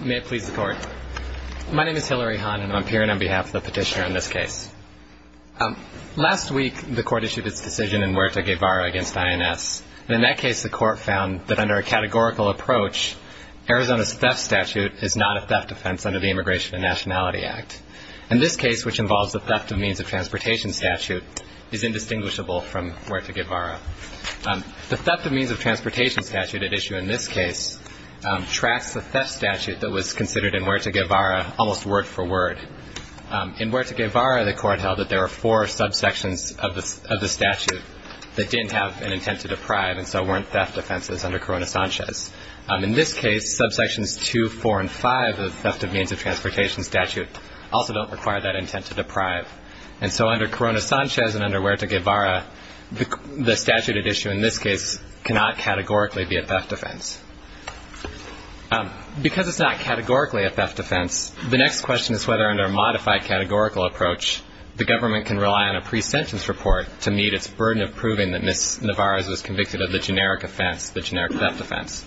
May it please the Court. My name is Hilary Hahn, and I'm appearing on behalf of the petitioner on this case. Last week, the Court issued its decision in Huerta Guevara v. INS, and in that case the Court found that under a categorical approach, Arizona's theft statute is not a theft offense under the Immigration and Nationality Act. In this case, which involves the theft of means of transportation statute, is indistinguishable from Huerta Guevara. The theft of means of transportation statute at issue in this case tracks the theft statute that was considered in Huerta Guevara almost word for word. In Huerta Guevara, the Court held that there were four subsections of the statute that didn't have an intent to deprive, and so weren't theft offenses under Corona Sanchez. In this case, subsections 2, 4, and 5 of the theft of means of transportation statute also don't require that intent to deprive. The theft of means of transportation statute at issue in this case cannot categorically be a theft offense. Because it's not categorically a theft offense, the next question is whether under a modified categorical approach, the government can rely on a pre-sentence report to meet its burden of proving that Ms. Nevarez was convicted of the generic offense, the generic theft offense.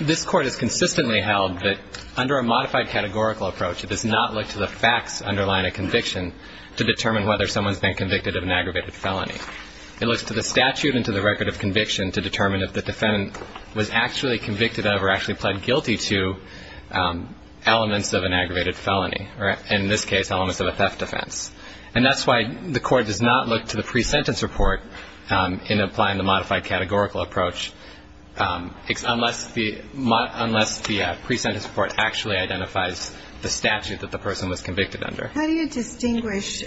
This Court has consistently held that under a modified categorical approach, it does not look to the facts underlying a conviction to determine whether someone's been convicted of an aggravated felony. It looks to the statute and to the record of conviction to determine if the defendant was actually convicted of or actually pled guilty to elements of an aggravated felony, or in this case, elements of a theft offense. And that's why the Court does not look to the pre-sentence report in applying the modified categorical approach unless the pre-sentence report actually identifies the statute that the person was convicted under. How do you distinguish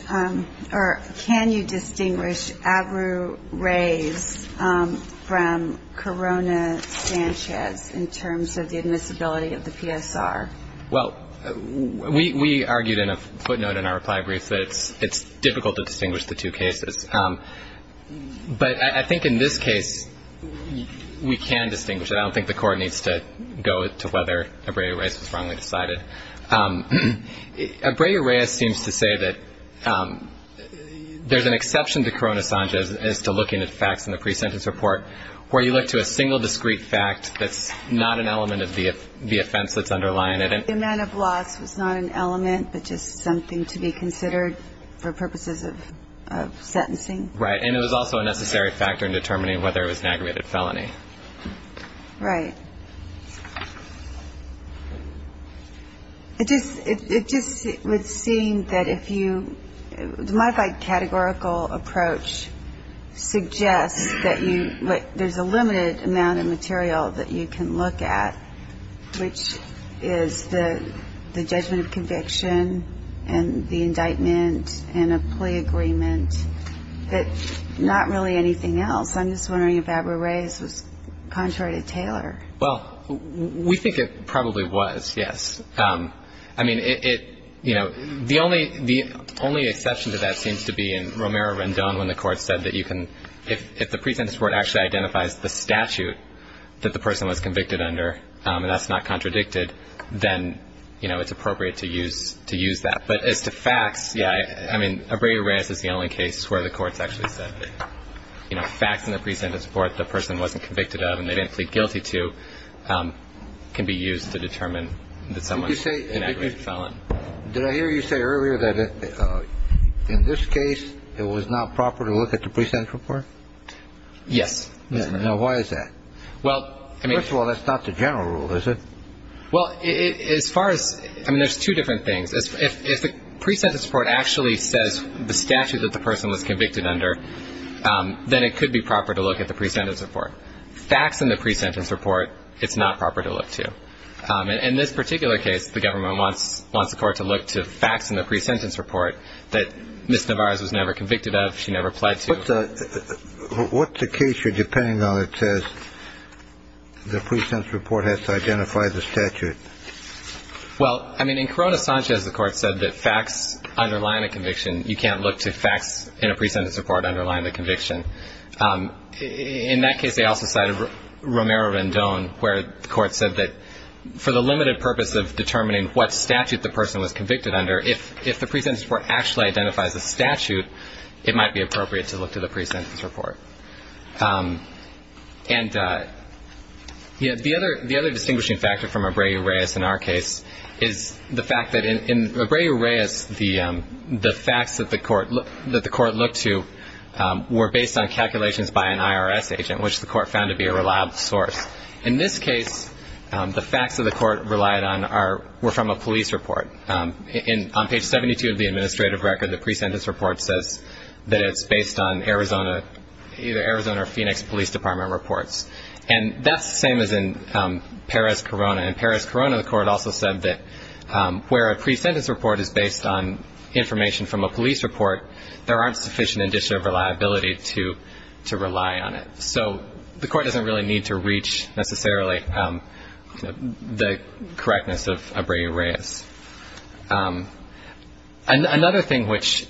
or can you distinguish Abreu Reyes from Corona Sanchez in terms of the admissibility of the PSR? Well, we argued in a footnote in our reply brief that it's difficult to distinguish the two cases. But I think in this case, we can distinguish it. I don't think the Court needs to go to whether Abreu Reyes was wrongly decided. Abreu Reyes seems to say that there's an exception to Corona Sanchez as to looking at facts in the pre-sentence report where you look to a single discrete fact that's not an element of the offense that's underlying it. The amount of loss was not an element, but just something to be considered for purposes of sentencing. Right. And it was also a necessary factor in determining whether it was an aggravated felony. Right. It just would seem that if you – the modified categorical approach suggests that there's a limited amount of material that you can look at, which is the judgment of conviction and the indictment and a plea agreement, but not really anything else. I'm just wondering if Abreu Reyes was contrary to Taylor. Well, we think it probably was, yes. I mean, it – you know, the only exception to that seems to be in Romero Rendon when the Court said that you can – if the pre-sentence report actually identifies the statute that the person was convicted under, and that's not contradicted, then, you know, it's appropriate to use that. But as to facts, yeah, I mean, Abreu Reyes is the only case where the Court's actually said that, you know, facts in the pre-sentence report the person wasn't convicted of and they didn't plead guilty to can be used to determine that someone's an aggravated felon. Did you say – did I hear you say earlier that in this case it was not proper to look at the pre-sentence report? Yes. Now, why is that? Well, I mean – First of all, that's not the general rule, is it? Well, as far as – I mean, there's two different things. If the pre-sentence report actually says the statute that the person was convicted under, then it could be proper to look at the pre-sentence report. Facts in the pre-sentence report, it's not proper to look to. In this particular case, the government wants the Court to look to facts in the pre-sentence report that Ms. Nevarez was never convicted of, she never pleaded to. But what's the case you're depending on that says the pre-sentence report has to identify the statute? Well, I mean, in Corona Sanchez, the Court said that facts underline a conviction. You can't look to facts in a pre-sentence report underlying the conviction. In that case, they also cited Romero-Rendon, where the Court said that for the limited purpose of determining what statute the person was convicted under, if the pre-sentence report actually identifies the statute, it might be appropriate to look to the pre-sentence report. And the other distinguishing factor from Abreu-Reyes in our case is the fact that in Abreu-Reyes, the facts that the Court looked to were based on calculations by an IRS agent, which the Court found to be a reliable source. In this case, the facts that the Court relied on were from a police report. On page 72 of the administrative record, the pre-sentence report says that it's based on either Arizona or Phoenix Police Department reports. And that's the same as in Perez-Corona. In Perez-Corona, the Court also said that where a pre-sentence report is based on information from a police report, there aren't sufficient indicia of reliability to rely on it. So the Court doesn't really need to reach necessarily the correctness of Abreu-Reyes. Another thing which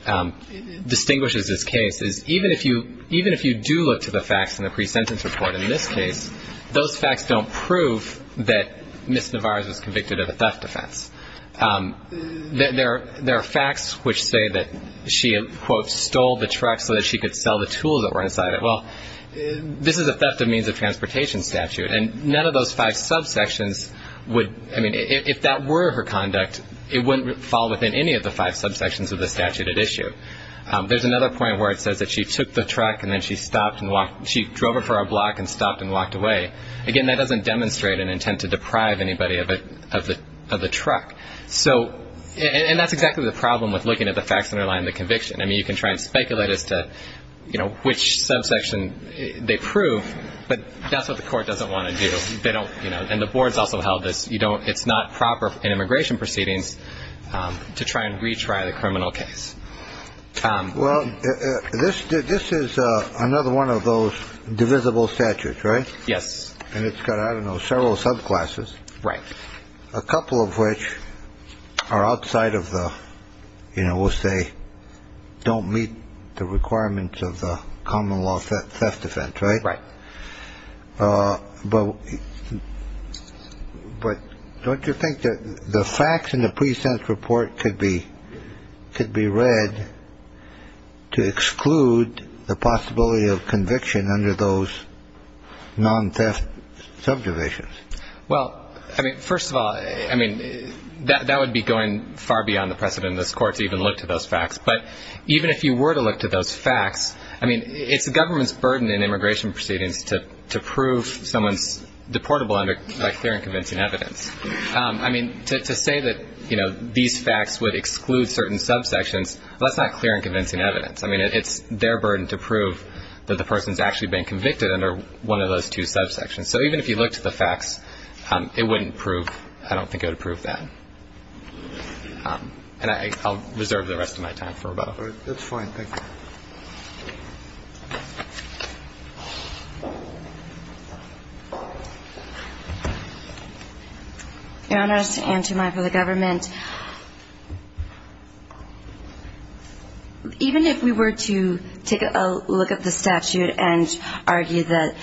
distinguishes this case is even if you do look to the facts in the pre-sentence report in this case, those facts don't prove that Ms. Navarez was convicted of a theft offense. There are facts which say that she, quote, stole the truck so that she could sell the tools that were inside it. Well, this is a theft of means of transportation statute, and none of those five subsections would – I mean, if that were her conduct, it wouldn't fall within any of the five subsections of the statute at issue. There's another point where it says that she took the truck and then she stopped and walked – she drove it for a block and stopped and walked away. Again, that doesn't demonstrate an intent to deprive anybody of the truck. So – and that's exactly the problem with looking at the facts underlying the conviction. I mean, you can try and speculate as to, you know, which subsection they prove, but that's what the Court doesn't want to do. They don't want to do that. So, you know, I think it's important to look at the facts and the evidence, and then to look at the facts and the evidence to try and retry the criminal case. Well, this is another one of those divisible statutes, right? Yes. And it's got, I don't know, several subclasses. Right. A couple of which are outside of the, you know, we'll say don't meet the requirements of the common law theft defense, right? Right. But don't you think that the facts in the pre-sentence report could be read to exclude the possibility of conviction under those non-theft subdivisions? Well, I mean, first of all, I mean, that would be going far beyond the precedent of this I mean, it's the government's burden in immigration proceedings to prove someone's deportable by clear and convincing evidence. I mean, to say that, you know, these facts would exclude certain subsections, that's not clear and convincing evidence. I mean, it's their burden to prove that the person's actually been convicted under one of those two subsections. So even if you looked at the facts, it wouldn't prove, I don't think it would prove And I'll reserve the rest of my time for about a minute. That's fine, thank you. Your Honors, and to my fellow government, even if we were to take a look at the statute and argue that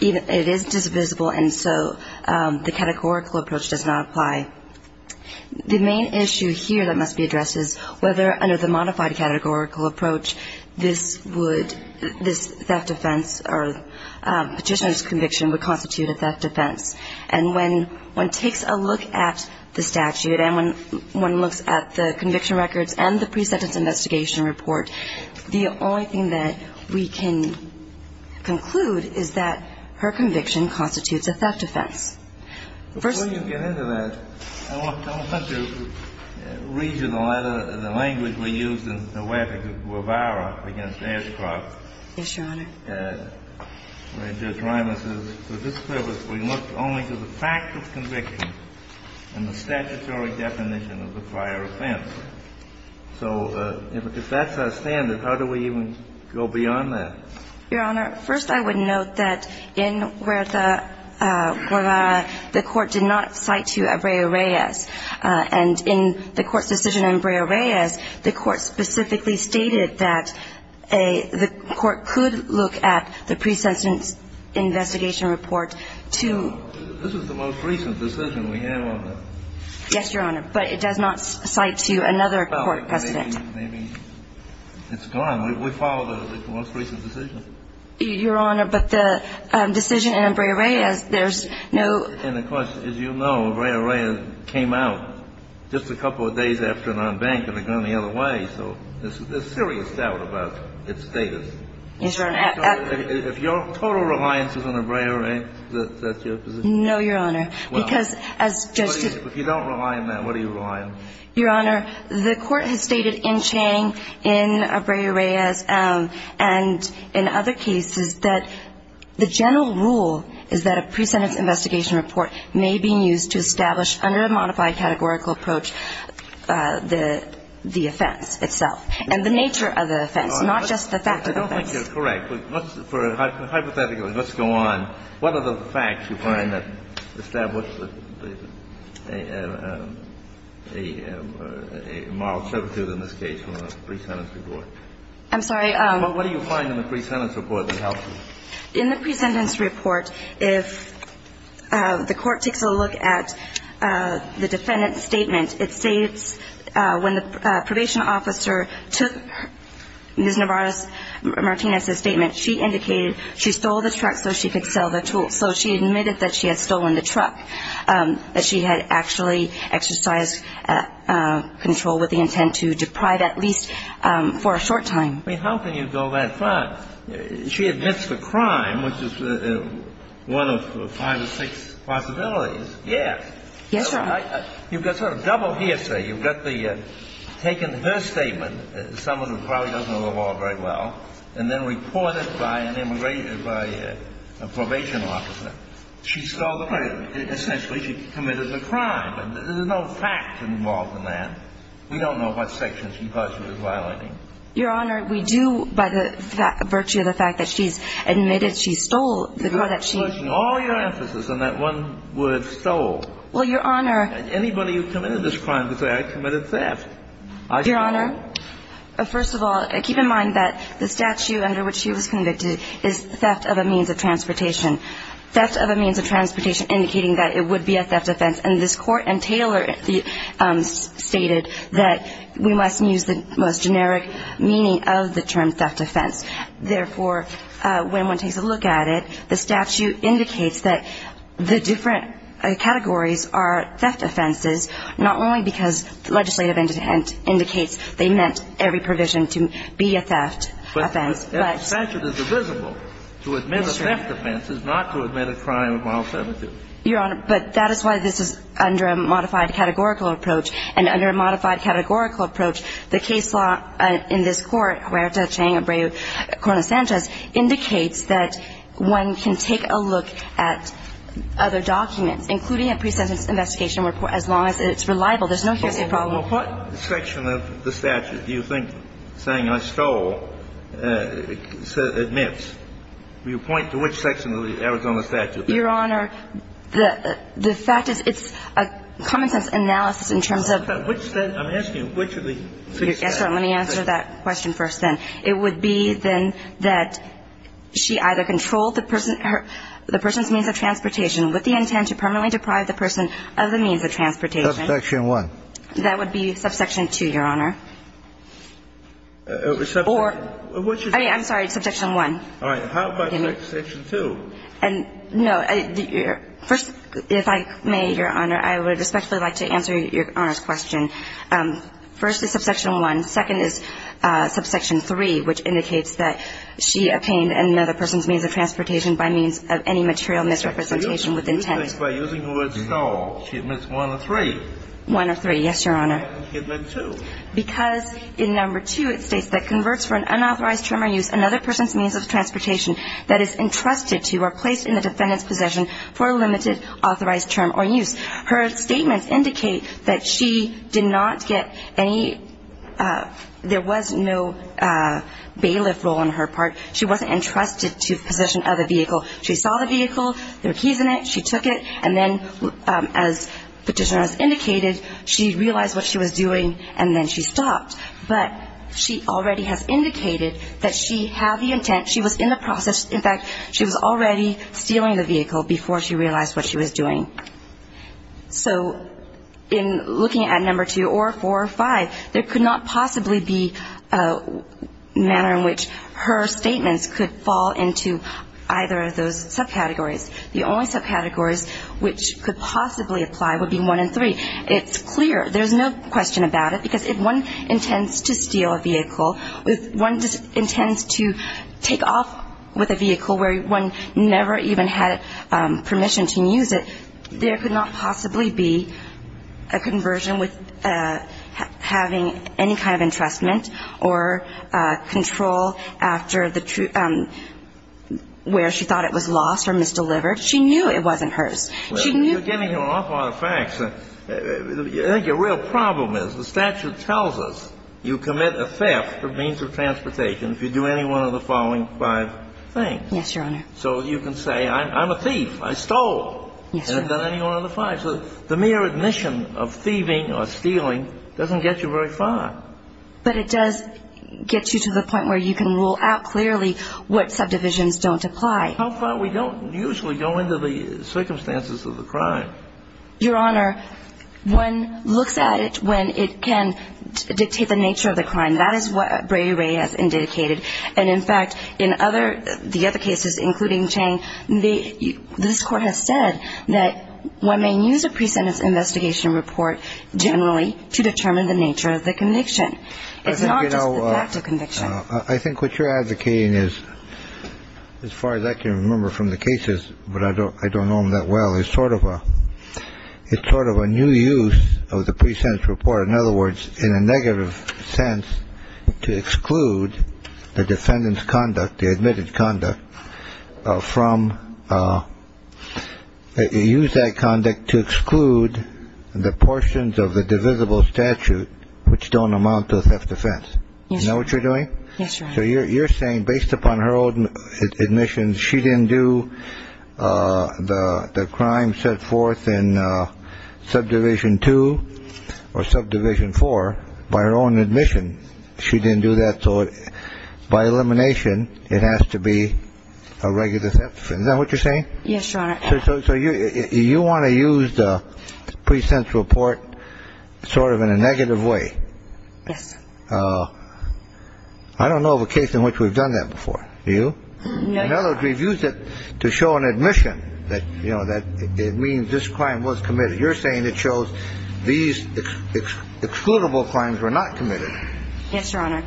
it is divisible and so the categorical approach does not apply, the main issue here that must be addressed is whether under the modified categorical approach this would, this theft offense or petitioner's conviction would constitute a theft offense. And when one takes a look at the statute and when one looks at the conviction records and the pre-sentence investigation report, the only thing that we can conclude is that her conviction constitutes a theft offense. First Before you get into that, I want to read you the letter, the language we used in the way of Guevara against Ashcroft. Yes, Your Honor. Where Judge Reimus says, For this purpose we look only to the fact of conviction and the statutory definition of the prior offense. So if that's our standard, how do we even go beyond that? Your Honor, first I would note that in Huerta, Guevara, the court did not cite to Abreu Reyes, and in the court's decision on Abreu Reyes, the court specifically stated that the court could look at the pre-sentence investigation report to This is the most recent decision we have on that. Yes, Your Honor, but it does not cite to another court precedent. Maybe it's gone. We follow the most recent decision. Your Honor, but the decision in Abreu Reyes, there's no And of course, as you know, Abreu Reyes came out just a couple of days after non-bank and it went the other way. So there's serious doubt about its status. Yes, Your Honor. If your total reliance is on Abreu Reyes, is that your position? No, Your Honor. Because as Judge Tewks If you don't rely on that, what do you rely on? Your Honor, the court has stated in Chang, in Abreu Reyes, and in other cases that the general rule is that a pre-sentence investigation report may be used to establish under a modified categorical approach the offense itself, and the nature of the offense, not just the fact of the offense. I don't think you're correct. For a hypothetical, let's go on. What are the facts you find that establish a moral servitude in this case in a pre-sentence report? I'm sorry. What do you find in the pre-sentence report that helps you? In the pre-sentence report, if the court takes a look at the defendant's statement, it states when the probation officer took Ms. Nevarez Martinez's statement, it states that she had stolen the truck, that she had actually exercised control with the intent to deprive at least for a short time. I mean, how can you go that far? She admits the crime, which is one of five or six possibilities. Yes. Yes, Your Honor. You've got sort of double hearsay. You've got the taken her statement, someone who probably doesn't know the law very well, and then reported by an immigration or by a probation officer. She stole the truck. Essentially, she committed the crime. There's no fact involved in that. We don't know what sections she thought she was violating. Your Honor, we do, by the virtue of the fact that she's admitted she stole the truck that she used. You're pushing all your emphasis on that one word, stole. Well, Your Honor. Anybody who committed this crime could say, I committed theft. Your Honor, first of all, keep in mind that this is a pre-sentence report. The statute under which she was convicted is theft of a means of transportation. Theft of a means of transportation indicating that it would be a theft offense. And this court in Taylor stated that we must use the most generic meaning of the term theft offense. Therefore, when one takes a look at it, the statute indicates that the different categories are theft offenses, not only because the legislative indicates they meant every provision to be a theft offense. But the statute is divisible. To admit a theft offense is not to admit a crime of mild seventy. Your Honor, but that is why this is under a modified categorical approach. And under a modified categorical approach, the case law in this court, Huerta, Chang, Abreu, Corona-Sanchez, indicates that one can take a look at other documents, including a pre-sentence investigation report, as long as it's reliable. There's no hearsay problem. Now, what section of the statute do you think saying I stole admits? Will you point to which section of the Arizona statute? Your Honor, the fact is, it's a common-sense analysis in terms of which of the three statutes. Let me answer that question first, then. It would be, then, that she either controlled the person's means of transportation with the intent to permanently deprive the person of the means of transportation Subsection 1. That would be subsection 2, Your Honor. Or, I mean, I'm sorry, subsection 1. All right. How about subsection 2? No. First, if I may, Your Honor, I would respectfully like to answer Your Honor's question. First is subsection 1. Second is subsection 3, which indicates that she obtained another person's means of transportation by means of any material misrepresentation with intent. By using the word stole, she admits 1 or 3. 1 or 3, yes, Your Honor. And she admits 2. Because in number 2, it states that converts for an unauthorized term or use another person's means of transportation that is entrusted to or placed in the defendant's possession for a limited authorized term or use. Her statements indicate that she did not get any – there was no bailiff role on her part. She wasn't entrusted to the possession of the vehicle. She saw the vehicle. There were keys in it. She took it. And then, as Petitioner has indicated, she realized what she was doing, and then she stopped. But she already has indicated that she had the intent. She was in the process. In fact, she was already stealing the vehicle before she realized what she was doing. So in looking at number 2 or 4 or 5, there could not possibly be a manner in which her statements could fall into either of those subcategories. The only subcategories which could possibly apply would be 1 and 3. It's clear. There's no question about it, because if one intends to steal a vehicle, if one intends to take off with a vehicle where one never even had permission to use it, there could not possibly be a conversion with having any kind of entrustment or control after where she thought it was lost or misdelivered. She knew it wasn't hers. She knew... Well, you're giving her an awful lot of facts. I think your real problem is the statute tells us you commit a theft of means of transportation if you do any one of the following five things. Yes, Your Honor. So you can say, I'm a thief. I stole. Yes, Your Honor. And I've done any one of the five. So the mere admission of thieving or stealing doesn't get you very far. But it does get you to the point where you can rule out clearly what subdivisions don't apply. How far? We don't usually go into the circumstances of the crime. Your Honor, one looks at it when it can dictate the nature of the crime. That is what Bray Ray has indicated. And, in fact, in the other cases, including Chang, this Court has said that one may use a pre-sentence investigation report generally to determine the nature of the conviction. It's not just the fact of conviction. I think what you're advocating is, as far as I can remember from the cases, but I don't know them that well, is sort of a new use of the pre-sentence report. In other words, in a negative sense, to exclude the defendant's conduct, the admitted conduct, from use that conduct to exclude the portions of the divisible statute which don't amount to a theft offense. You know what you're doing? So you're saying based upon her own admissions, she didn't do the crime set forth in subdivision two or subdivision four by her own admission. She didn't do that. So by elimination, it has to be a regular theft offense. Is that what you're saying? Yes, Your Honor. So you want to use the pre-sentence report sort of in a negative way. Yes. I don't know of a case in which we've done that before. Do you? No, Your Honor. In other words, we've used it to show an admission that it means this crime was committed. You're saying it shows these excludable crimes were not committed. Yes, Your Honor.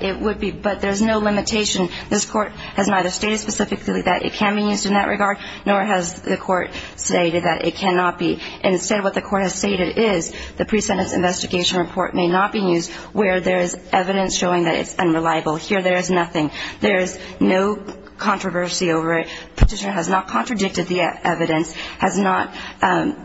It would be. But there's no limitation. This Court has neither stated specifically that it can be used in that regard, nor has the Court stated that it cannot be. Instead, what the Court has stated is the pre-sentence investigation report may not be used where there is evidence showing that it's unreliable. Here, there is nothing. There is no controversy over it. Petitioner has not contradicted the evidence, has not done,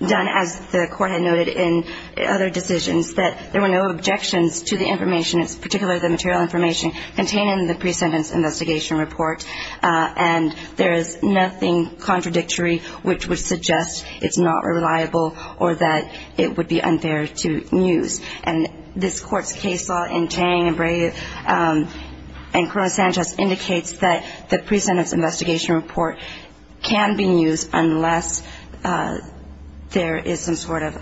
as the Court had noted in other decisions, that there were no objections to the information, particularly the material information contained in the pre-sentence investigation report. And there is nothing contradictory which would suggest it's not reliable or that it would be unfair to use. And this Court's case law in Tang and Brave and Coronel Sanchez indicates that the pre-sentence investigation report can be used unless there is some sort of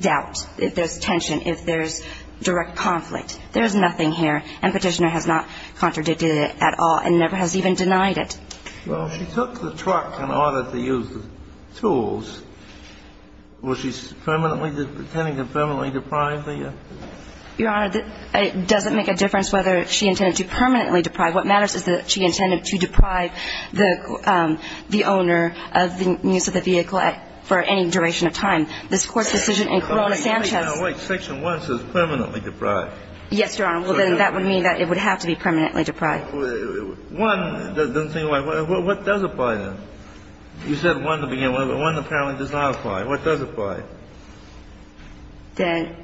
doubt. If there's tension, if there's direct conflict. There is nothing here. And Petitioner has not contradicted it at all and never has even denied it. Well, she took the truck in order to use the tools. Was she permanently attempting to permanently deprive the? Your Honor, it doesn't make a difference whether she intended to permanently deprive. What matters is that she intended to deprive the owner of the use of the vehicle for any duration of time. This Court's decision in Coronel Sanchez. Wait. Section 1 says permanently deprive. Yes, Your Honor. Well, then that would mean that it would have to be permanently deprive. One doesn't seem like one. What does apply then? You said one to begin with. One apparently does not apply. What does apply? Then?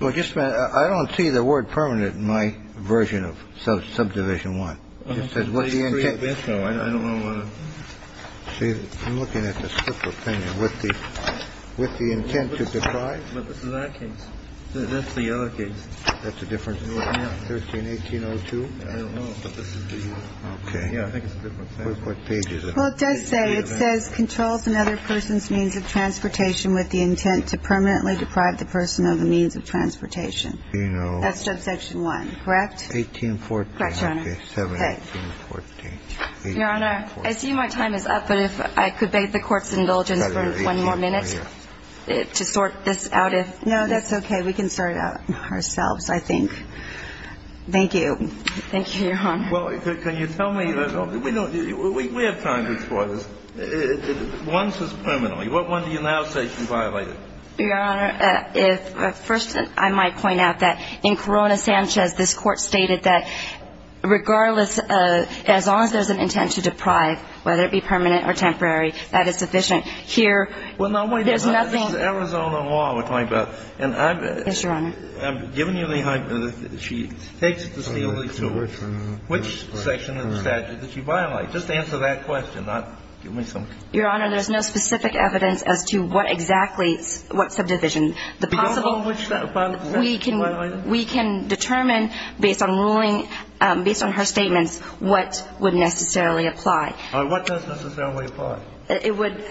Well, just a minute. I don't see the word permanent in my version of Subdivision 1. It says what's the intent? I don't know. I'm looking at the split opinion. What's the intent to deprive? But this is our case. That's the other case. That's a different? Yeah. 13-1802? I don't know. Okay. Yeah, I think it's a different thing. Well, it does say, it says controls another person's means of transportation with the intent to permanently deprive the person of the means of transportation. You know. That's Subsection 1. Correct? 1814. Correct, Your Honor. Okay. Your Honor, I see my time is up, but if I could beg the Court's indulgence for one more minute to sort this out. No, that's okay. We can sort it out ourselves, I think. Thank you. Thank you, Your Honor. Well, can you tell me, we have time to explore this. Once it's permanently, what one do you now say can violate it? Your Honor, first, I might point out that in Corona-Sanchez, this Court stated that regardless, as long as there's an intent to deprive, whether it be permanent or temporary, that is sufficient. Here, there's nothing. Well, no, wait a minute. This is Arizona law we're talking about. Yes, Your Honor. I'm giving you the hypothesis. She takes the steely tool. Which section of the statute did she violate? Just answer that question, not give me some. Your Honor, there's no specific evidence as to what exactly, what subdivision. The possible one which that violated? We can determine based on ruling, based on her statements, what would necessarily apply. What does necessarily apply? It would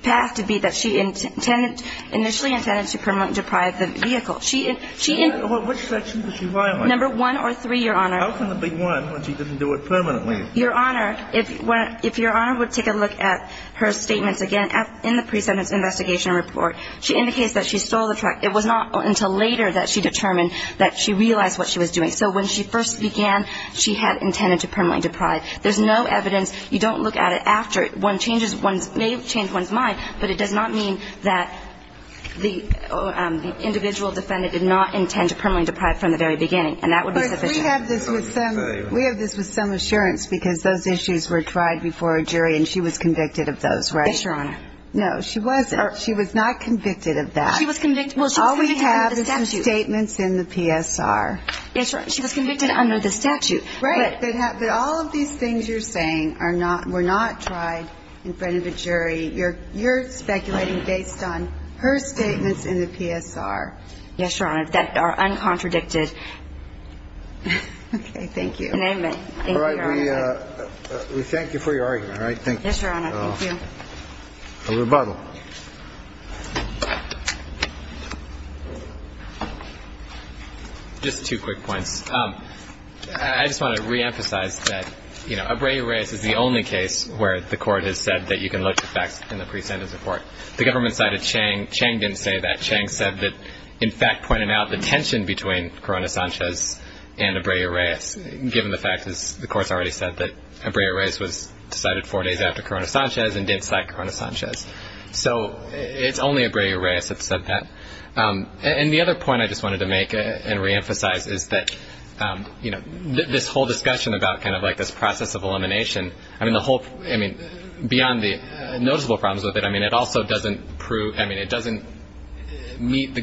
pass to be that she initially intended to permanently deprive the vehicle. Which section did she violate? Number one or three, Your Honor. How can it be one when she didn't do it permanently? Your Honor, if Your Honor would take a look at her statements again in the pre-sentence investigation report, she indicates that she stole the truck. It was not until later that she determined that she realized what she was doing. So when she first began, she had intended to permanently deprive. There's no evidence. You don't look at it after. One changes one's mind, but it does not mean that the individual defendant did not intend to permanently deprive from the very beginning, and that would be sufficient. We have this with some assurance because those issues were tried before a jury, and she was convicted of those, right? Yes, Your Honor. No, she wasn't. She was not convicted of that. She was convicted under the statute. All we have is the statements in the PSR. Yes, Your Honor. She was convicted under the statute. Right. But all of these things you're saying are not, were not tried in front of a jury. You're speculating based on her statements in the PSR. Yes, Your Honor. And I would say, in my opinion, that this is a case where there are very few questions that are un-contradicted. Okay. Thank you. Thank you, Your Honor. All right. We thank you for your argument, all right? Thank you. Yes, Your Honor. Thank you. A rebuttal. Just two quick points. I just want to reemphasize that, you know, Abreu-Reyes is the only case where the court has said that you can look to facts in the pre-sentence report. The government cited Chang. Chang didn't say that. Chang said that, in fact, pointed out the tension between Corona-Sanchez and Abreu-Reyes, given the fact, as the court's already said, that Abreu-Reyes was decided four days after Corona-Sanchez and did cite Corona-Sanchez. So it's only Abreu-Reyes that said that. And the other point I just wanted to make and reemphasize is that, you know, this whole discussion about kind of like this process of elimination, I mean, the whole, I mean, beyond the noticeable problems with it, I mean, it also doesn't prove, I mean, it doesn't meet the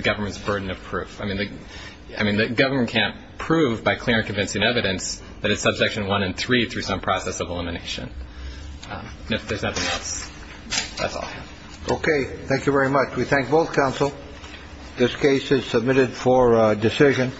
government's burden of proof. I mean, the government can't prove by clear and convincing evidence that it's subsection one and three through some process of elimination. If there's nothing else, that's all. Okay. Thank you very much. We thank both counsel. This case is submitted for decision.